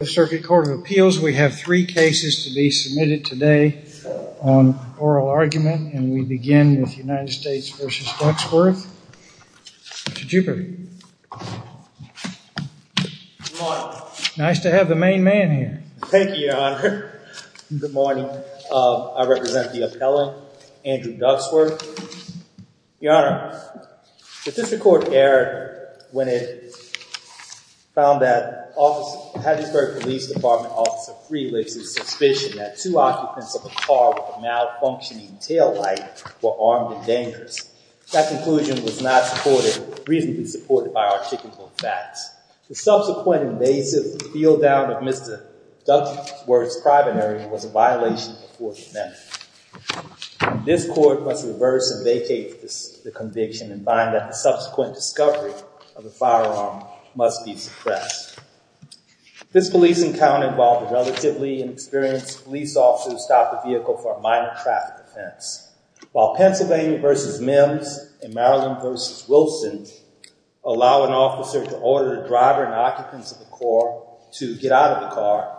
The Circuit Court of Appeals, we have three cases to be submitted today on oral argument and we begin with United States v. Ducksworth. Mr. Jupiter, nice to have the main man here. Thank you, Your Honor. Good morning. I represent the appellant, Andrew Ducksworth. Your Honor, the District Court erred when it found that Hattiesburg Police Department officer Freelix's suspicion that two occupants of a car with a malfunctioning taillight were armed and dangerous. That conclusion was not supported, reasonably supported, by articulable facts. The subsequent invasive feeldown of Mr. Ducksworth's primary was a violation of the Fourth Amendment. This court must reverse and vacate the conviction and find that the subsequent discovery of the firearm must be suppressed. This police encounter involved a relatively inexperienced police officer who stopped the vehicle for a minor traffic offense. While Pennsylvania v. Mims and Maryland v. Wilson allow an officer to order the driver and occupants of the car to get out of the car,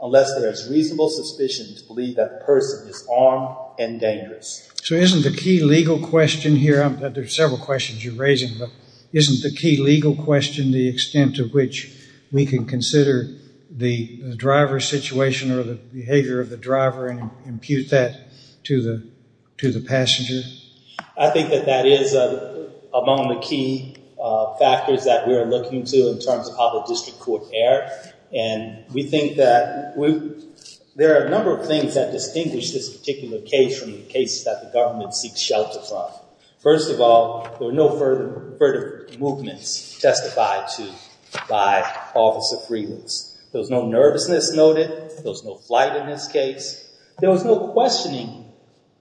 unless there is reasonable suspicion to believe that the person is armed and dangerous. So isn't the key legal question here, there's several questions you're raising, but isn't the key legal question the extent to which we can consider the driver's situation or the behavior of the driver and impute that to the passenger? I think that that is among the key factors that we are looking to in terms of how the district court erred. And we think that there are a number of things that distinguish this particular case from the case that the government seeks shelter from. First of all, there were no further movements testified to by officer Freelands. There was no nervousness noted. There was no flight in this case. There was no questioning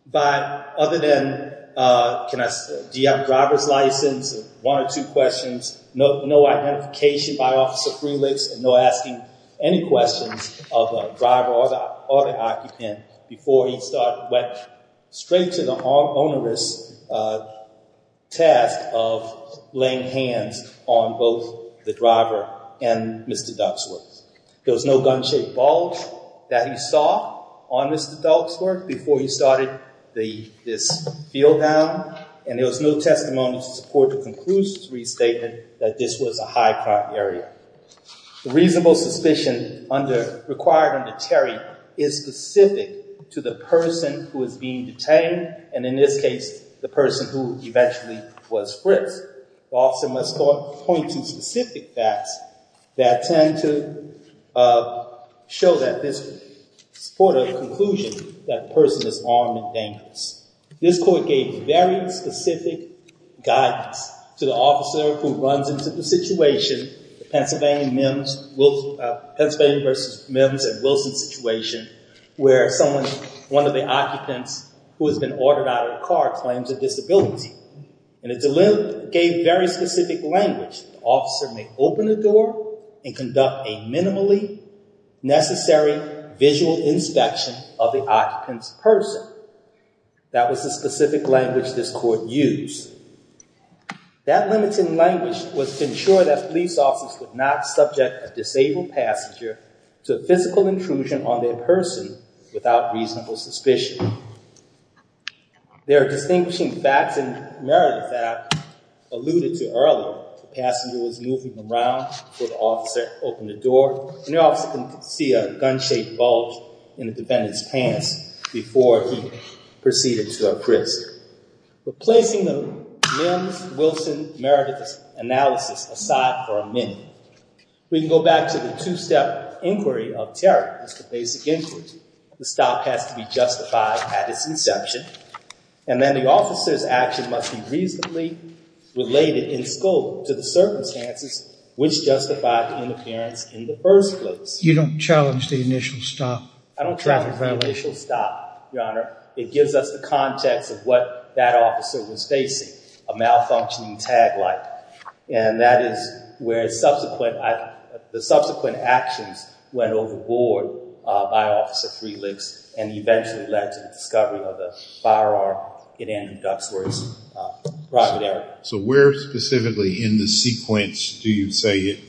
by other than, do you have a driver's license? One or two questions, no identification by officer Freelands and no asking any questions of a driver or the occupant before he went straight to the onerous task of laying hands on both the driver and Mr. Duxworth. There was no gun-shaped bulge that he saw on Mr. Duxworth before he started this field bound. And there was no testimony to support the conclusive restatement that this was a high crime area. The reasonable suspicion required under Terry is specific to the person who is being detained. And in this case, the person who eventually was frisked. The officer must point to specific facts that tend to show that this supportive conclusion that the person is armed and dangerous. This court gave very specific guidance to the officer who runs into the situation, the Pennsylvania versus Mims and Wilson situation, where someone, one of the occupants who has been ordered out of the car claims a disability. And it gave very specific language. Officer may open the door and conduct a minimally necessary visual inspection of the occupant's person. That was the specific language this court used. That limiting language was to ensure that police officers would not subject a disabled passenger to physical intrusion on their person without reasonable suspicion. There are distinguishing facts in Meredith that alluded to earlier. The passenger was moving around before the officer opened the door. And the officer can see a gun-shaped bulge in the defendant's pants before he proceeded to a frisk. Replacing the Mims, Wilson, Meredith analysis aside for a minute, we can go back to the two-step inquiry of terror. It's the basic inquiry. The stop has to be justified at its inception. And then the officer's action must be reasonably related in scope to the circumstances which justify the interference in the first place. You don't challenge the initial stop? I don't challenge the initial stop, Your Honor. It gives us the context of what that officer was facing, a malfunctioning tag light. And that is where the subsequent actions went overboard by Officer Freelix and eventually led to the discovery of the firearm in Andrew Duckworth's private area. So where specifically in the sequence do you say it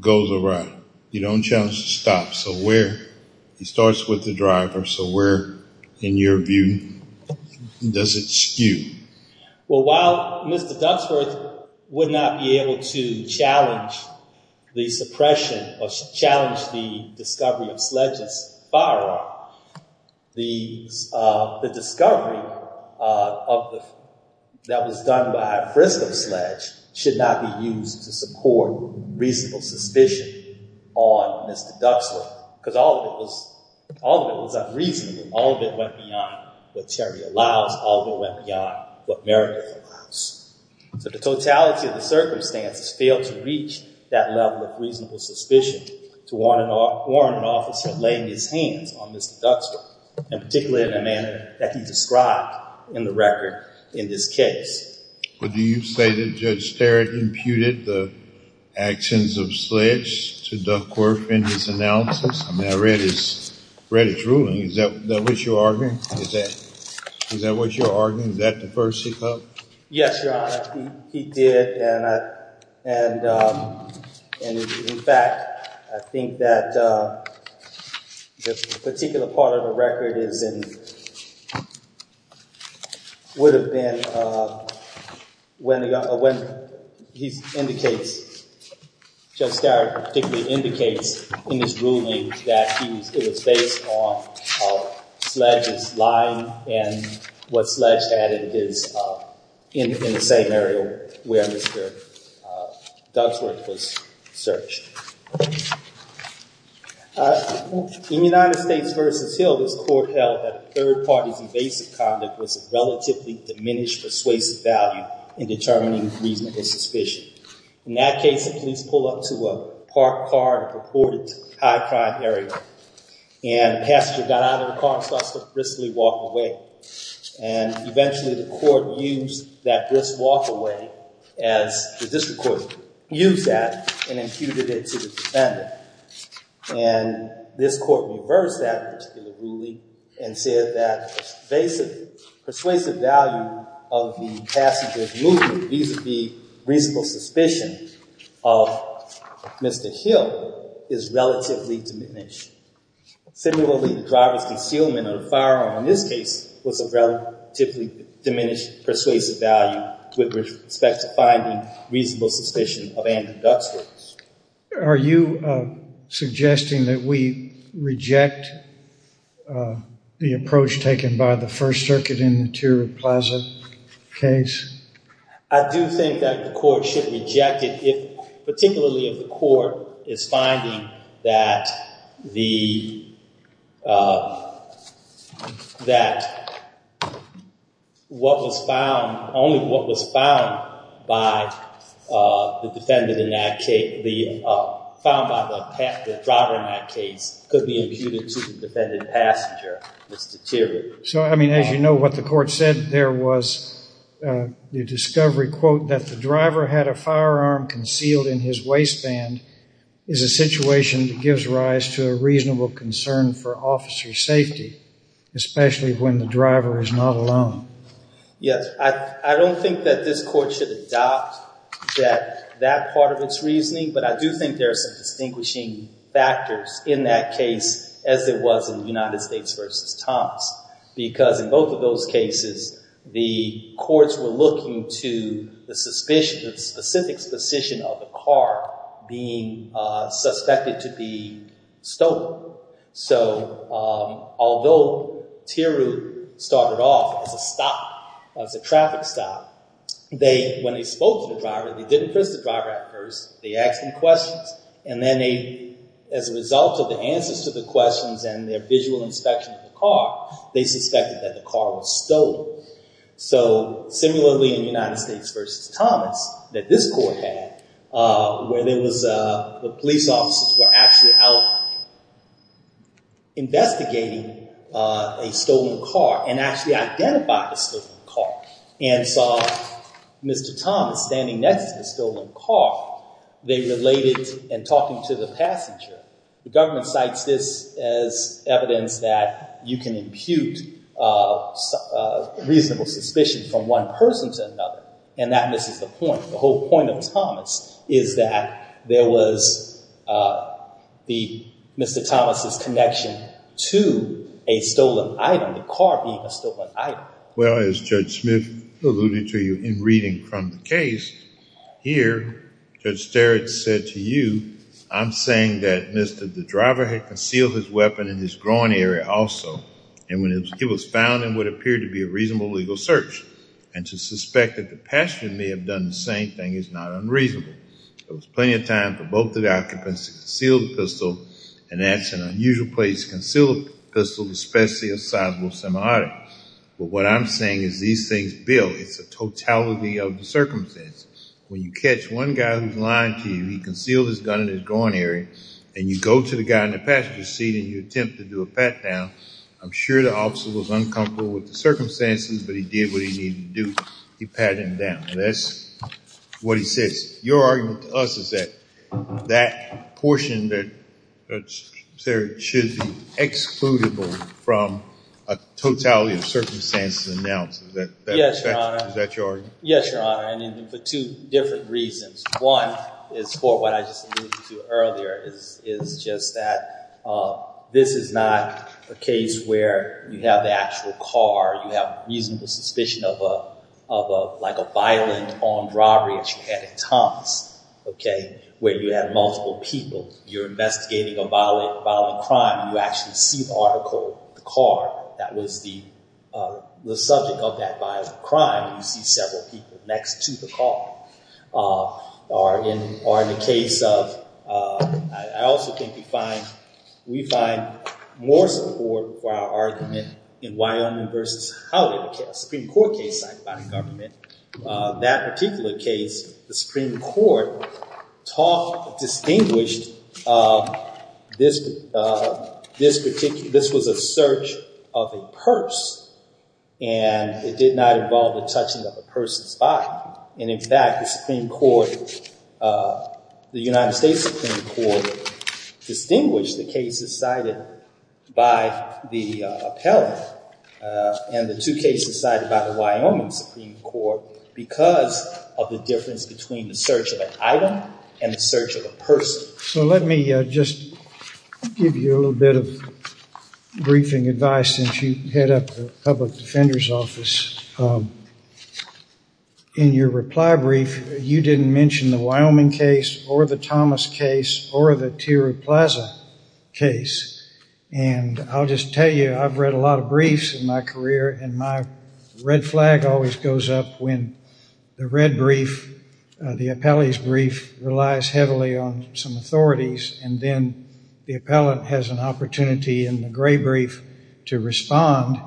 goes around? You don't challenge the stop. So where? It starts with the driver. So where in your view does it skew? Well, while Mr. Duckworth would not be able to challenge the suppression or challenge the discovery of Sledge's firearm, the discovery that was done by Frisco Sledge should not be used to support reasonable suspicion on Mr. Duckworth because all of it was unreasonable. All of it went beyond what Terry allows. All of it went beyond what Meredith allows. So the totality of the circumstances failed to reach that level of reasonable suspicion to warrant an officer laying his hands on Mr. Duckworth, and particularly in a manner that he described in the record in this case. But do you say that Judge Sterrett imputed the actions of Sledge to Duckworth in his analysis? I mean, I read his ruling. Is that what you're arguing? Is that the first he called? Yes, Your Honor. He did, and in fact, I think that the particular part of the record is and would have been when he indicates, Judge Sterrett particularly indicates in his ruling that it was based on Sledge's lying and what Sledge had in the same area where Mr. Duckworth was searched. In United States v. Hill, this court held that a third party's invasive conduct was a relatively diminished persuasive value in determining reasonable suspicion. In that case, the police pull up to a parked car in a purported high-crime area, and the passenger got out of the car and starts to briskly walk away. And eventually, the court used that brisk walk away, as the district used that, and imputed it to the defendant. And this court reversed that particular ruling and said that invasive persuasive value of the passenger's movement vis-a-vis reasonable suspicion of Mr. Hill is relatively diminished. Similarly, the driver's concealment of the firearm in this case was of relatively diminished persuasive value with respect to finding reasonable suspicion of Andrew Duckworth. Are you suggesting that we reject the approach taken by the First Circuit in the Tiru Plaza case? I do think that the court should reject it, particularly if the court is finding that only what was found by the driver in that case could be imputed to the defendant passenger, Mr. Tiru. So, I mean, as you know, what the court said there was the discovery, that the driver had a firearm concealed in his waistband is a situation that gives rise to a reasonable concern for officer safety, especially when the driver is not alone. Yes, I don't think that this court should adopt that part of its reasoning, but I do think there are some distinguishing factors in that case, as there was in United States v. Thompson, because in both of the cases, they were looking to the specific suspicion of the car being suspected to be stolen. So, although Tiru started off as a stop, as a traffic stop, when they spoke to the driver, they didn't press the driver at first, they asked him questions, and then as a result of the answers to the questions and their visual inspection of the car, they suspected that the car was stolen. So, similarly in United States v. Thomas, that this court had, where there was, the police officers were actually out investigating a stolen car, and actually identified the stolen car, and saw Mr. Thomas standing next to the stolen car, they related, and talking to the passenger, the government cites this as evidence that you can impute a reasonable suspicion from one person to another, and that misses the point. The whole point of Thomas is that there was the, Mr. Thomas' connection to a stolen item, the car being a stolen item. Well, as Judge Smith alluded to you in reading from the case, here, Judge Starrett said to you, I'm saying that Mr., the driver had concealed his weapon in his groin area also, and when it was found, it would appear to be a reasonable legal search, and to suspect that the passenger may have done the same thing is not unreasonable. There was plenty of time for both the occupants to conceal the pistol, and that's an unusual place to conceal a pistol, especially a sizable semi-auto. But what I'm saying is these things build, it's a totality of the circumstance. When you catch one guy who's lying to you, he concealed his gun in his groin area, and you go to the guy in the passenger seat, and you attempt to do a pat-down, I'm sure the officer was uncomfortable with the circumstances, but he did what he needed to do. He patted him down. That's what he says. Your argument to us is that that portion that, sir, should be excludable from a totality of circumstances announced. Is that your argument? Yes, Your Honor, and for two different reasons. One is for what I just alluded to earlier, is just that this is not a case where you have the actual car, you have reasonable suspicion of like a violent armed robbery that you had in Thomas, okay, where you had multiple people, you're investigating a violent crime, you actually see the article, the car that was the subject of that violent crime, you see several people next to the car. Or in the case of, I also think we find more support for our argument in Wyoming versus Hollywood Supreme Court case signed by the government. That particular case, the Supreme Court distinguished this was a search of a purse, and it did not involve the touching of a person's body. And in fact, the Supreme Court, the United States Supreme Court distinguished the cases cited by the appellant and the two cases cited by the Wyoming Supreme Court because of the difference between the search of an item and the search of a person. So let me just give you a little bit of background before I head up the Public Defender's Office. In your reply brief, you didn't mention the Wyoming case or the Thomas case or the Tiru Plaza case. And I'll just tell you, I've read a lot of briefs in my career, and my red flag always goes up when the red brief, the appellee's brief relies heavily on some authorities, and then the appellant has an opportunity in the gray brief to respond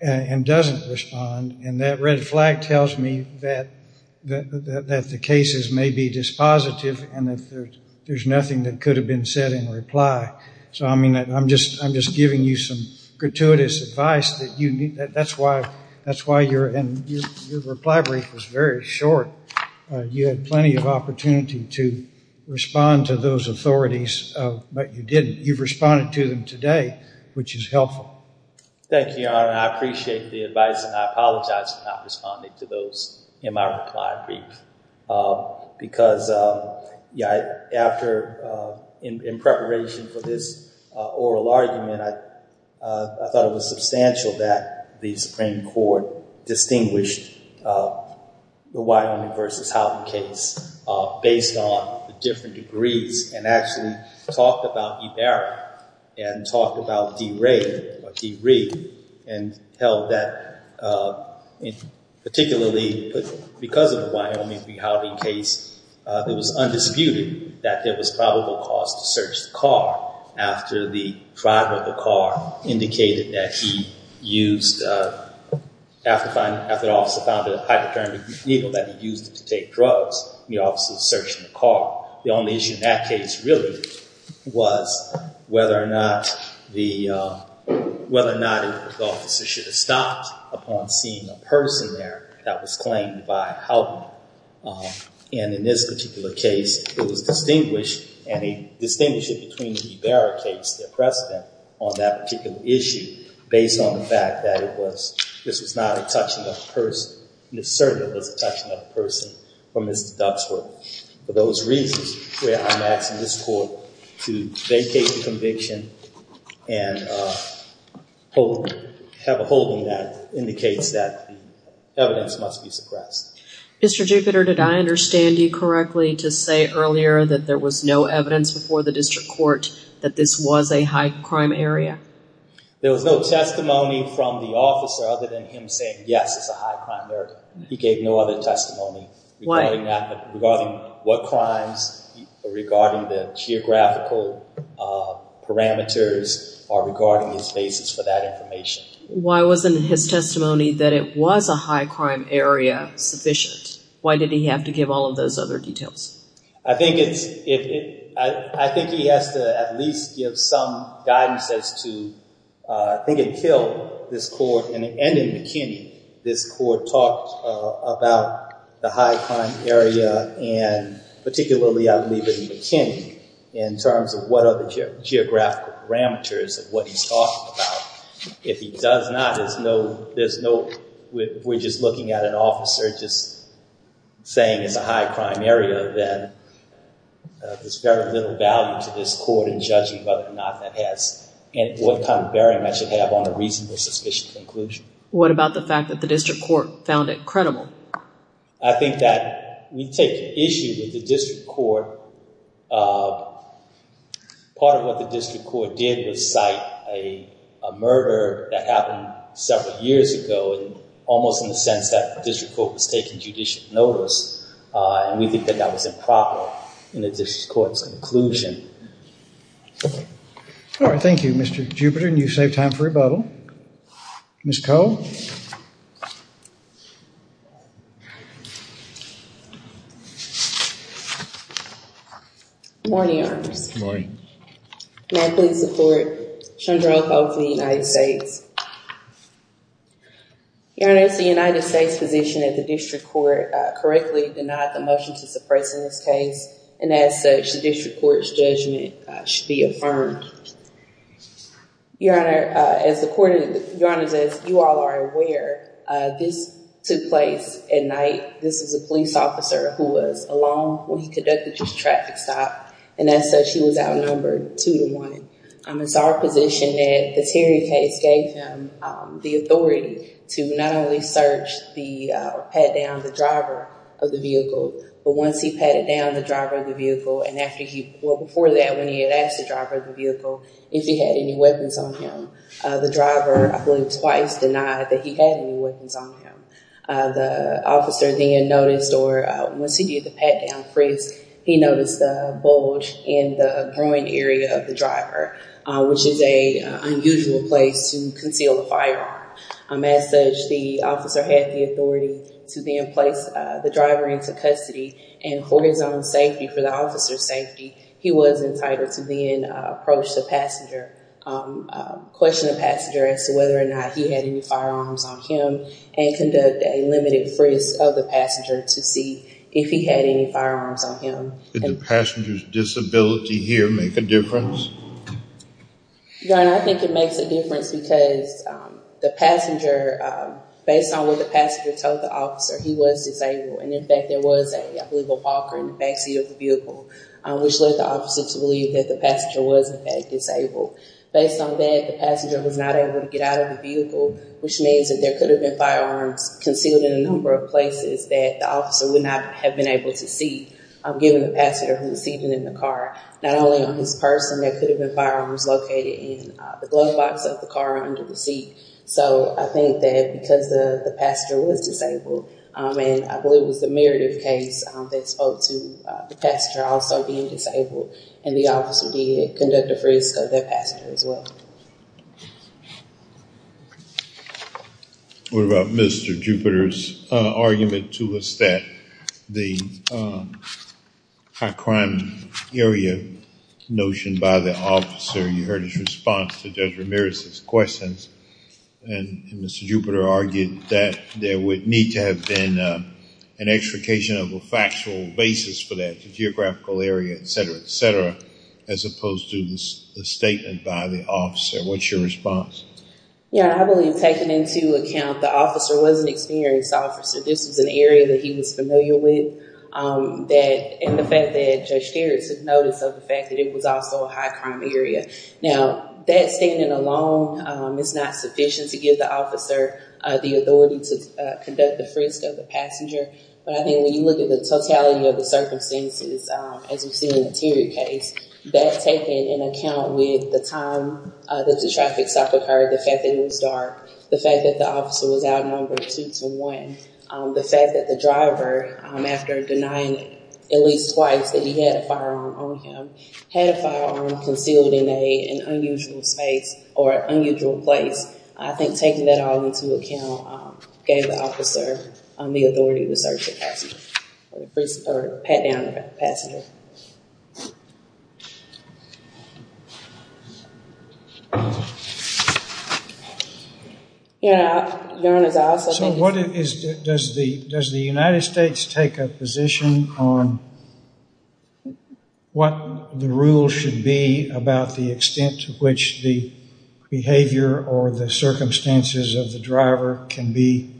and doesn't respond. And that red flag tells me that the cases may be dispositive, and that there's nothing that could have been said in reply. So I mean, I'm just giving you some gratuitous advice that you need. That's why your reply brief was very short. You had plenty of opportunity to respond to those authorities, but you didn't. You've responded to them today, which is helpful. Thank you, Your Honor. I appreciate the advice, and I apologize for not responding to those in my reply brief. Because after, in preparation for this oral argument, I thought it was substantial that the Supreme Court distinguished the Wyoming versus Houghton case based on the different degrees and actually talked about Ibarra and talked about DeRay or DeRee and held that, particularly because of the Wyoming v. Houghton case, it was undisputed that there was probable cause to search the car after the driver of the car indicated that he used, after the officer found a high-return vehicle that he used to take drugs, and the officer was searching the car. The only issue in that case, really, was whether or not the officer should have stopped upon seeing a person there that was claimed by Houghton. And in this particular case, it was distinguished, and he distinguished it between the Ibarra case, their precedent on that particular issue, based on the fact that it was, this was not a touching-up person, and it certainly was a touching-up person for Mr. Duxworth. For those reasons, where I'm asking this court to vacate the conviction and have a holding that indicates that evidence must be suppressed. Mr. Jupiter, did I understand you correctly to say earlier that there was no evidence before the district court that this was a high-crime area? There was no testimony from the officer other than him saying, yes, it's a high-crime area. He gave no other testimony. Why? Regarding what crimes, regarding the geographical parameters, or regarding his basis for that information. Why wasn't his testimony that it was a high-crime area sufficient? Why did he have to give all of those other details? I think it's, I think he has to at least give some guidance as to, I think until this court, and in McKinney, this court talked about the high-crime area, and particularly, I believe, in McKinney, in terms of what are the geographical parameters of what he's talking about. If he does not, there's no, there's no, we're just looking at an officer just saying it's a high-crime area, then there's very little value to this court in judging whether or not that has, and what kind of bearing that should have on a reasonable, suspicious conclusion. What about the fact that the district court found it credible? I think that we take issue with the district court. Part of what the district court did was cite a murder that happened several years ago, and almost in the sense that the district court was taking judicial notice, and we think that that was improper in the district court's conclusion. All right, thank you, Mr. Jupiter, and you saved time for rebuttal. Ms. Cole? Good morning, Your Honor. Good morning. May I please support Shondrell Cole for the United States? Your Honor, it's the United States position that the district court correctly denied the motion to suppress in this case, and as such, the district court's judgment should be affirmed. Your Honor, as the court, Your Honor, as you all are aware, this took place at night. This was a police officer who was alone when he conducted his traffic stop, and as such, he was outnumbered two to one. It's our position that this hearing case gave him the authority to not only search or pat down the driver of the vehicle, but once he patted down the driver of the vehicle, and before that, when he had asked the driver of the vehicle if he had any weapons on him, the driver, I believe, twice denied that he had any weapons on him. The officer then noticed, or once he did the pat down, he noticed the bulge in the groin area of the driver, which is an unusual place to conceal a firearm. As such, the officer had the authority to then the driver into custody, and for his own safety, for the officer's safety, he was entitled to then approach the passenger, question the passenger as to whether or not he had any firearms on him, and conduct a limited frisk of the passenger to see if he had any firearms on him. Did the passenger's disability here make a difference? Your Honor, I think it makes a difference because the passenger, based on what the passenger told the officer, he was disabled, and in fact, there was a, I believe, a walker in the backseat of the vehicle, which led the officer to believe that the passenger was, in fact, disabled. Based on that, the passenger was not able to get out of the vehicle, which means that there could have been firearms concealed in a number of places that the officer would not have been able to see, given the passenger who was seated in the car, not only on his person, there could have been firearms located in the glove box of the car under the seat. So, I think that because the passenger was disabled, and I believe it was the Meredith case that spoke to the passenger also being disabled, and the officer did conduct a frisk of the passenger as well. What about Mr. Jupiter's argument to us that the high crime area notion by the officer, you heard his response to Judge Ramirez's questions, and Mr. Jupiter argued that there would need to have been an extrication of a factual basis for that, the geographical area, et cetera, et cetera, as opposed to the statement by the officer. What's your response? Your Honor, I believe taking into account the officer was an experienced officer, this was an area that he was familiar with, and the fact that Judge Harris had noticed the fact that it was also a high crime area. Now, that statement alone is not sufficient to give the officer the authority to conduct the frisk of the passenger, but I think when you look at the totality of the circumstances, as we've seen in the Terry case, that's taken into account with the time that the traffic stop occurred, the fact that it was dark, the fact that the officer was outnumbered two to one, the fact that the driver, after denying at least twice that he had a firearm on him, had a firearm concealed in an unusual space or unusual place, I think taking that all into account gave the officer the authority to search the passenger, pat down the passenger. Your Honor, does the United States take a position on what the rule should be about the extent to which the behavior or the circumstances of the driver can be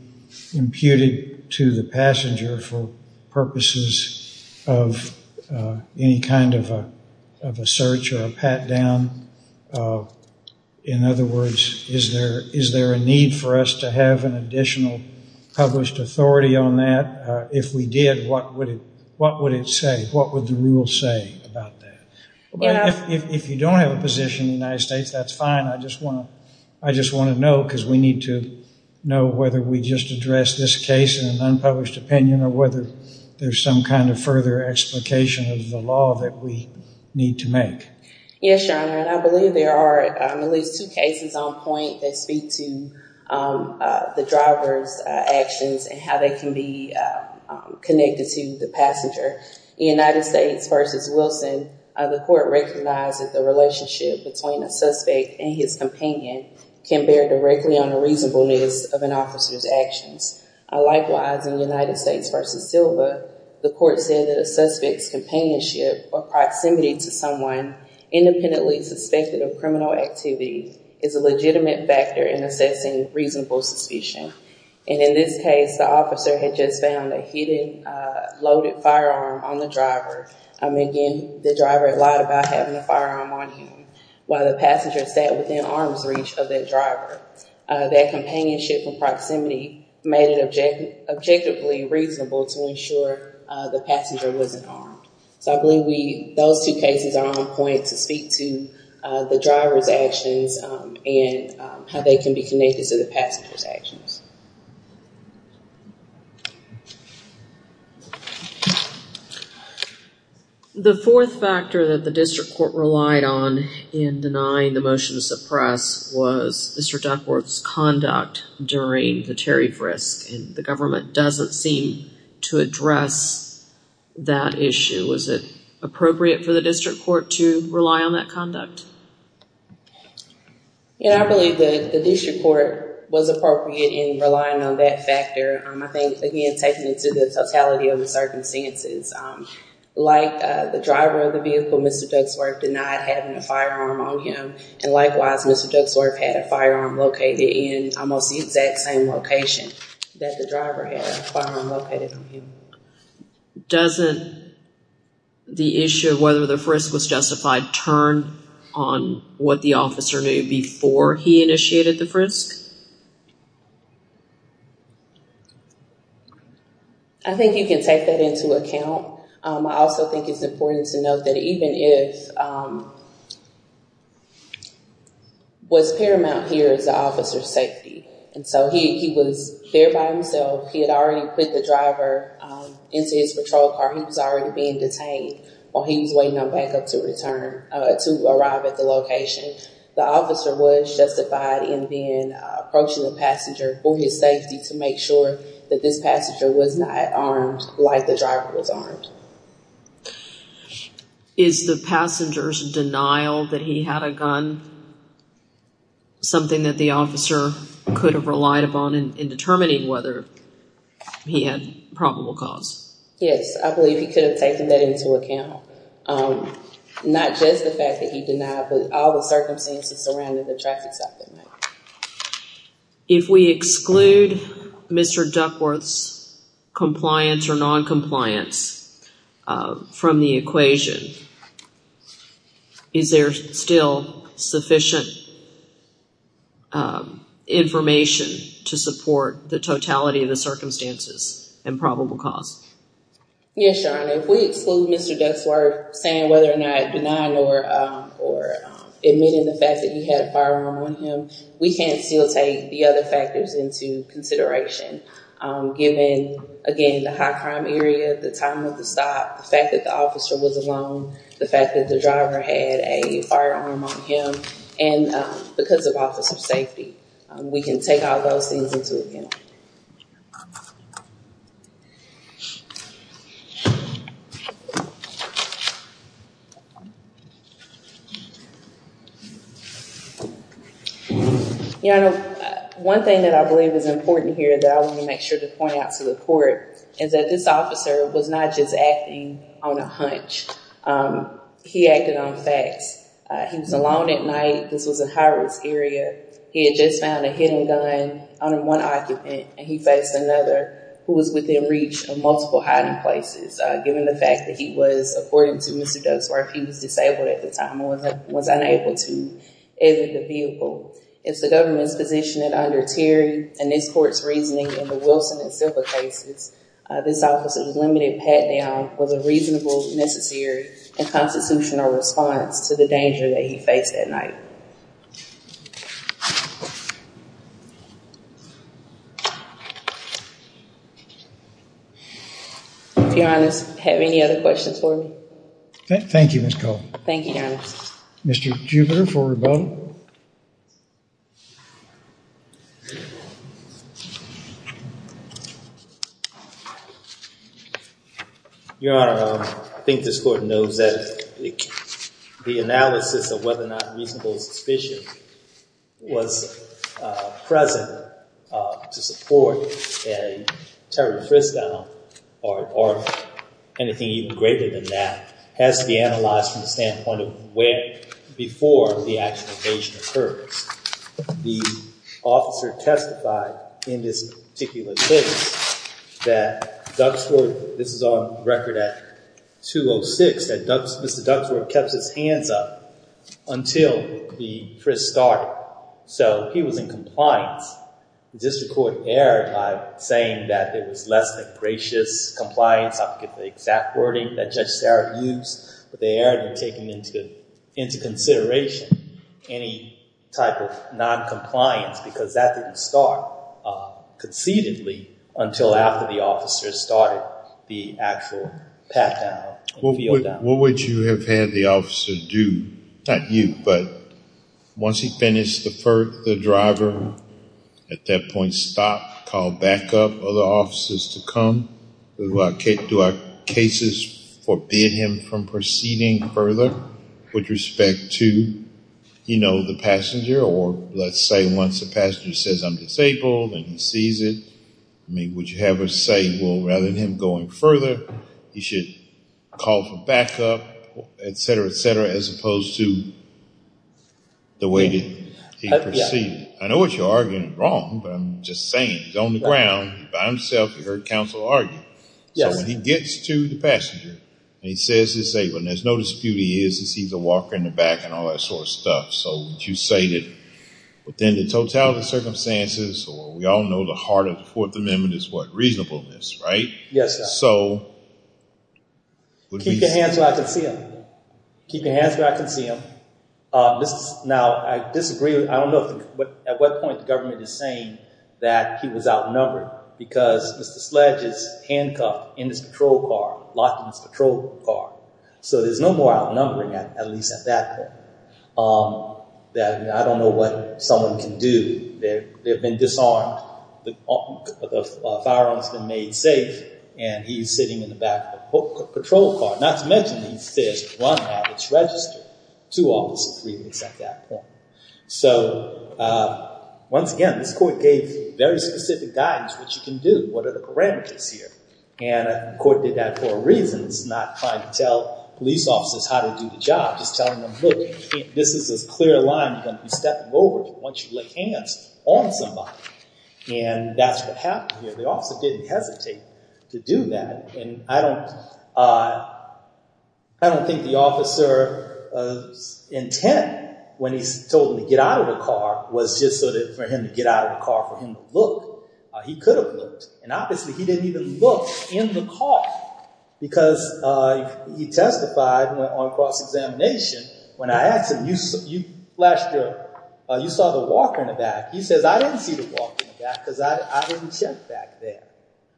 imputed to the passenger for purposes of any kind of a search or a pat down? In other words, is there a need for us to have an additional published authority on that? If we did, what would it say? What would the rule say about that? If you don't have a position in the United States, that's fine. I just want to know because we need to know whether we just addressed this case in an unpublished opinion or whether there's some kind of further explication of the law that we need to make. Yes, Your Honor, and I believe there are at least two cases on point that speak to the driver's actions and how they can be connected to the passenger. The United States versus Wilson, the court recognizes the relationship between a suspect and his companion can bear directly on the reasonableness of an officer's actions. Likewise, in the United States versus Silva, the court said that a suspect's companionship or proximity to someone independently suspected of criminal activity is a legitimate factor in assessing reasonable suspicion. In this case, the officer had just found a hidden loaded firearm on the driver. Again, the driver lied about having a firearm on him while the passenger sat within arm's reach of that driver. That companionship and proximity made it objectively reasonable to ensure the passenger wasn't armed. I believe those two cases are on point to speak to the driver's actions and how they can be connected to the passenger's actions. The fourth factor that the district court relied on in denying the motion to suppress was district court's conduct during the tariff risk and the government doesn't seem to address that issue. Was it appropriate for the district court to rely on that conduct? Yeah, I believe that the district court was appropriate in relying on that factor. I think, again, taken into the totality of the circumstances. Like the driver of the vehicle, Mr. Duxworth denied having a firearm on him and, likewise, Mr. Duxworth had a firearm located in almost the exact same location that the driver had a firearm located on him. Doesn't the issue of whether the frisk was justified turn on what the officer knew before he initiated the frisk? I think you can take that into account. I also think it's important to note that even if what's paramount here is the officer's safety. He was there by himself. He had already put the driver into his patrol car. He was already being detained while he was waiting on backup to return to arrive at the location. The officer was justified in approaching the passenger for his safety to make sure that this passenger was not armed like the driver was armed. Is the passenger's denial that he had a gun something that the officer could have relied upon in determining whether he had probable cause? Yes, I believe he could have taken that into account. Not just the fact that he denied, but all the circumstances surrounding the traffic at night. If we exclude Mr. Duxworth's compliance or non-compliance from the equation, is there still sufficient information to support the totality of the circumstances and probable cause? Yes, Your Honor. If we exclude Mr. Duxworth saying whether or not denying or or admitting the fact that he had a firearm on him, we can still take the other factors into consideration. Given, again, the high crime area, the time of the stop, the fact that the officer was alone, the fact that the driver had a firearm on him, and because of officer safety, we can take all those things into account. Your Honor, one thing that I believe is important here that I want to make sure to point out to the court is that this officer was not just acting on a hunch. He acted on facts. He was alone at night. This was a high-risk area. He had just found a hidden gun on one occupant, and he faced another who was within reach of multiple hiding places, given the fact that he was, according to Mr. Duxworth, he was disabled at the time and was unable to exit the vehicle. It's the government's position that under Terry and this court's reasoning in the Wilson and Silva cases, this officer's limited pat-down was a reasonable, necessary, and constitutional response to the crime. Your Honor, do you have any other questions for me? Thank you, Ms. Cole. Thank you, Your Honor. Mr. Jupiter for rebuttal. Your Honor, I think this court knows that the analysis of whether or not reasonable suspicion was present to support a Terry Fristown or anything even greater than that has to be the officer testified in this particular case that Duxworth, this is on record at 206, that Mr. Duxworth kept his hands up until the Frist started. So he was in compliance. The district court erred by saying that there was less than gracious compliance. I forget the exact non-compliance because that didn't start concededly until after the officer started the actual pat-down. What would you have had the officer do? Not you, but once he finished the driver, at that point, stop, call backup, other officers to come? Do our cases forbid him from proceeding further with respect to the passenger? Or let's say once the passenger says I'm disabled and he sees it, would you have us say, well, rather than him going further, he should call for backup, et cetera, et cetera, as opposed to the way that he proceeded? I know what you're arguing is wrong, but I'm just saying he's on the ground by himself. You heard counsel argue. So when he gets to the passenger and he says he's able and there's no dispute he is, he sees a walker in the back and all that sort of stuff. So would you say that within the totality of circumstances, or we all know the heart of the Fourth Amendment is what, reasonableness, right? Yes, sir. So would we- Keep your hands where I can see them. Keep your hands where I can see them. Now, I disagree. I don't know at what point the government is saying that he was outnumbered because Mr. Sledge is handcuffed in his patrol car, locked in his patrol car. So there's no more outnumbering, at least at that point, that I don't know what someone can do. They've been disarmed. The firearm's been made safe and he's sitting in the back of the patrol car, not to mention he says, run now, it's registered. Two officer briefings at that point. So once again, this court gave very specific guidance what you can do, what are the parameters here? And the court did that for a reason, it's not trying to tell police officers how to do the job, just telling them, look, this is a clear line you're going to be stepping over once you lick hands on somebody. And that's what happened here. The officer didn't hesitate to do that. And I don't think the officer's intent when he's told him to get out of the car was just sort of for him to get out of the car for him to look. He could have looked. And obviously he didn't even look in the car because he testified on cross-examination. When I asked him, you saw the walker in the back, he says, I didn't see the walker in the back because I didn't check back there.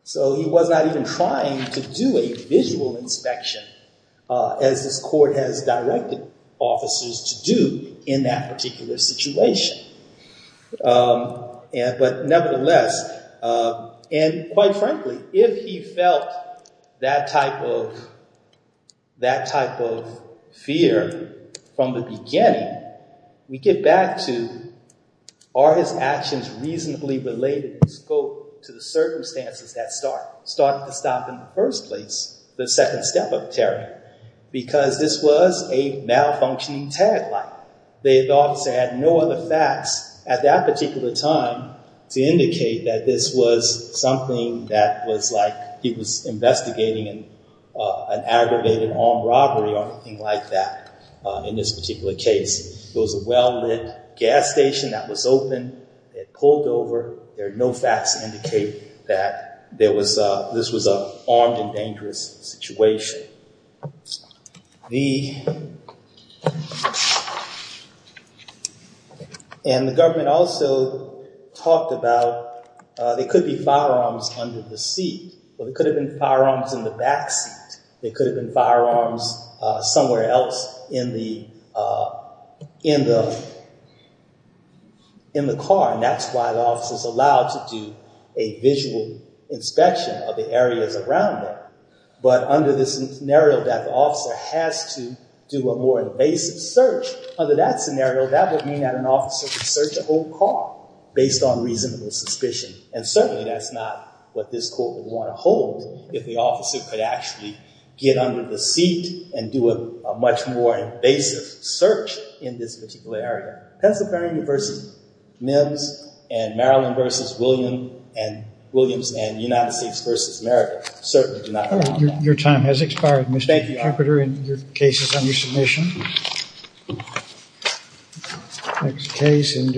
So he was not even trying to do a visual inspection as this court has directed officers to do in that particular situation. But nevertheless, and quite frankly, if he felt that type of fear from the beginning, we get back to are his actions reasonably related to the circumstances that started to stop in the first place, the second step of terror, because this was a malfunctioning tag light. The officer had no other facts at that particular time to indicate that this was something that was like he was investigating an aggravated armed robbery or anything like that in this particular case. It was a well-lit gas station that was open. They had pulled over. There are no facts to indicate that this was an armed and dangerous situation. And the government also talked about, there could be firearms under the seat, but it could have been firearms in the backseat. They could have been firearms somewhere else in the car. And that's why the office is allowed to do a visual inspection of the areas around there. But under this scenario that the officer has to do a more invasive search under that scenario, that would mean that an officer could search the whole car based on reasonable suspicion. And certainly that's not what this court would want to hold if the officer could actually get under the seat and do a much more invasive search in this particular area. Pennsylvania v. Mims and Maryland v. Williams and United States v. America certainly do not have that problem. Your time has expired, Mr. Cooperter. Your case is under submission.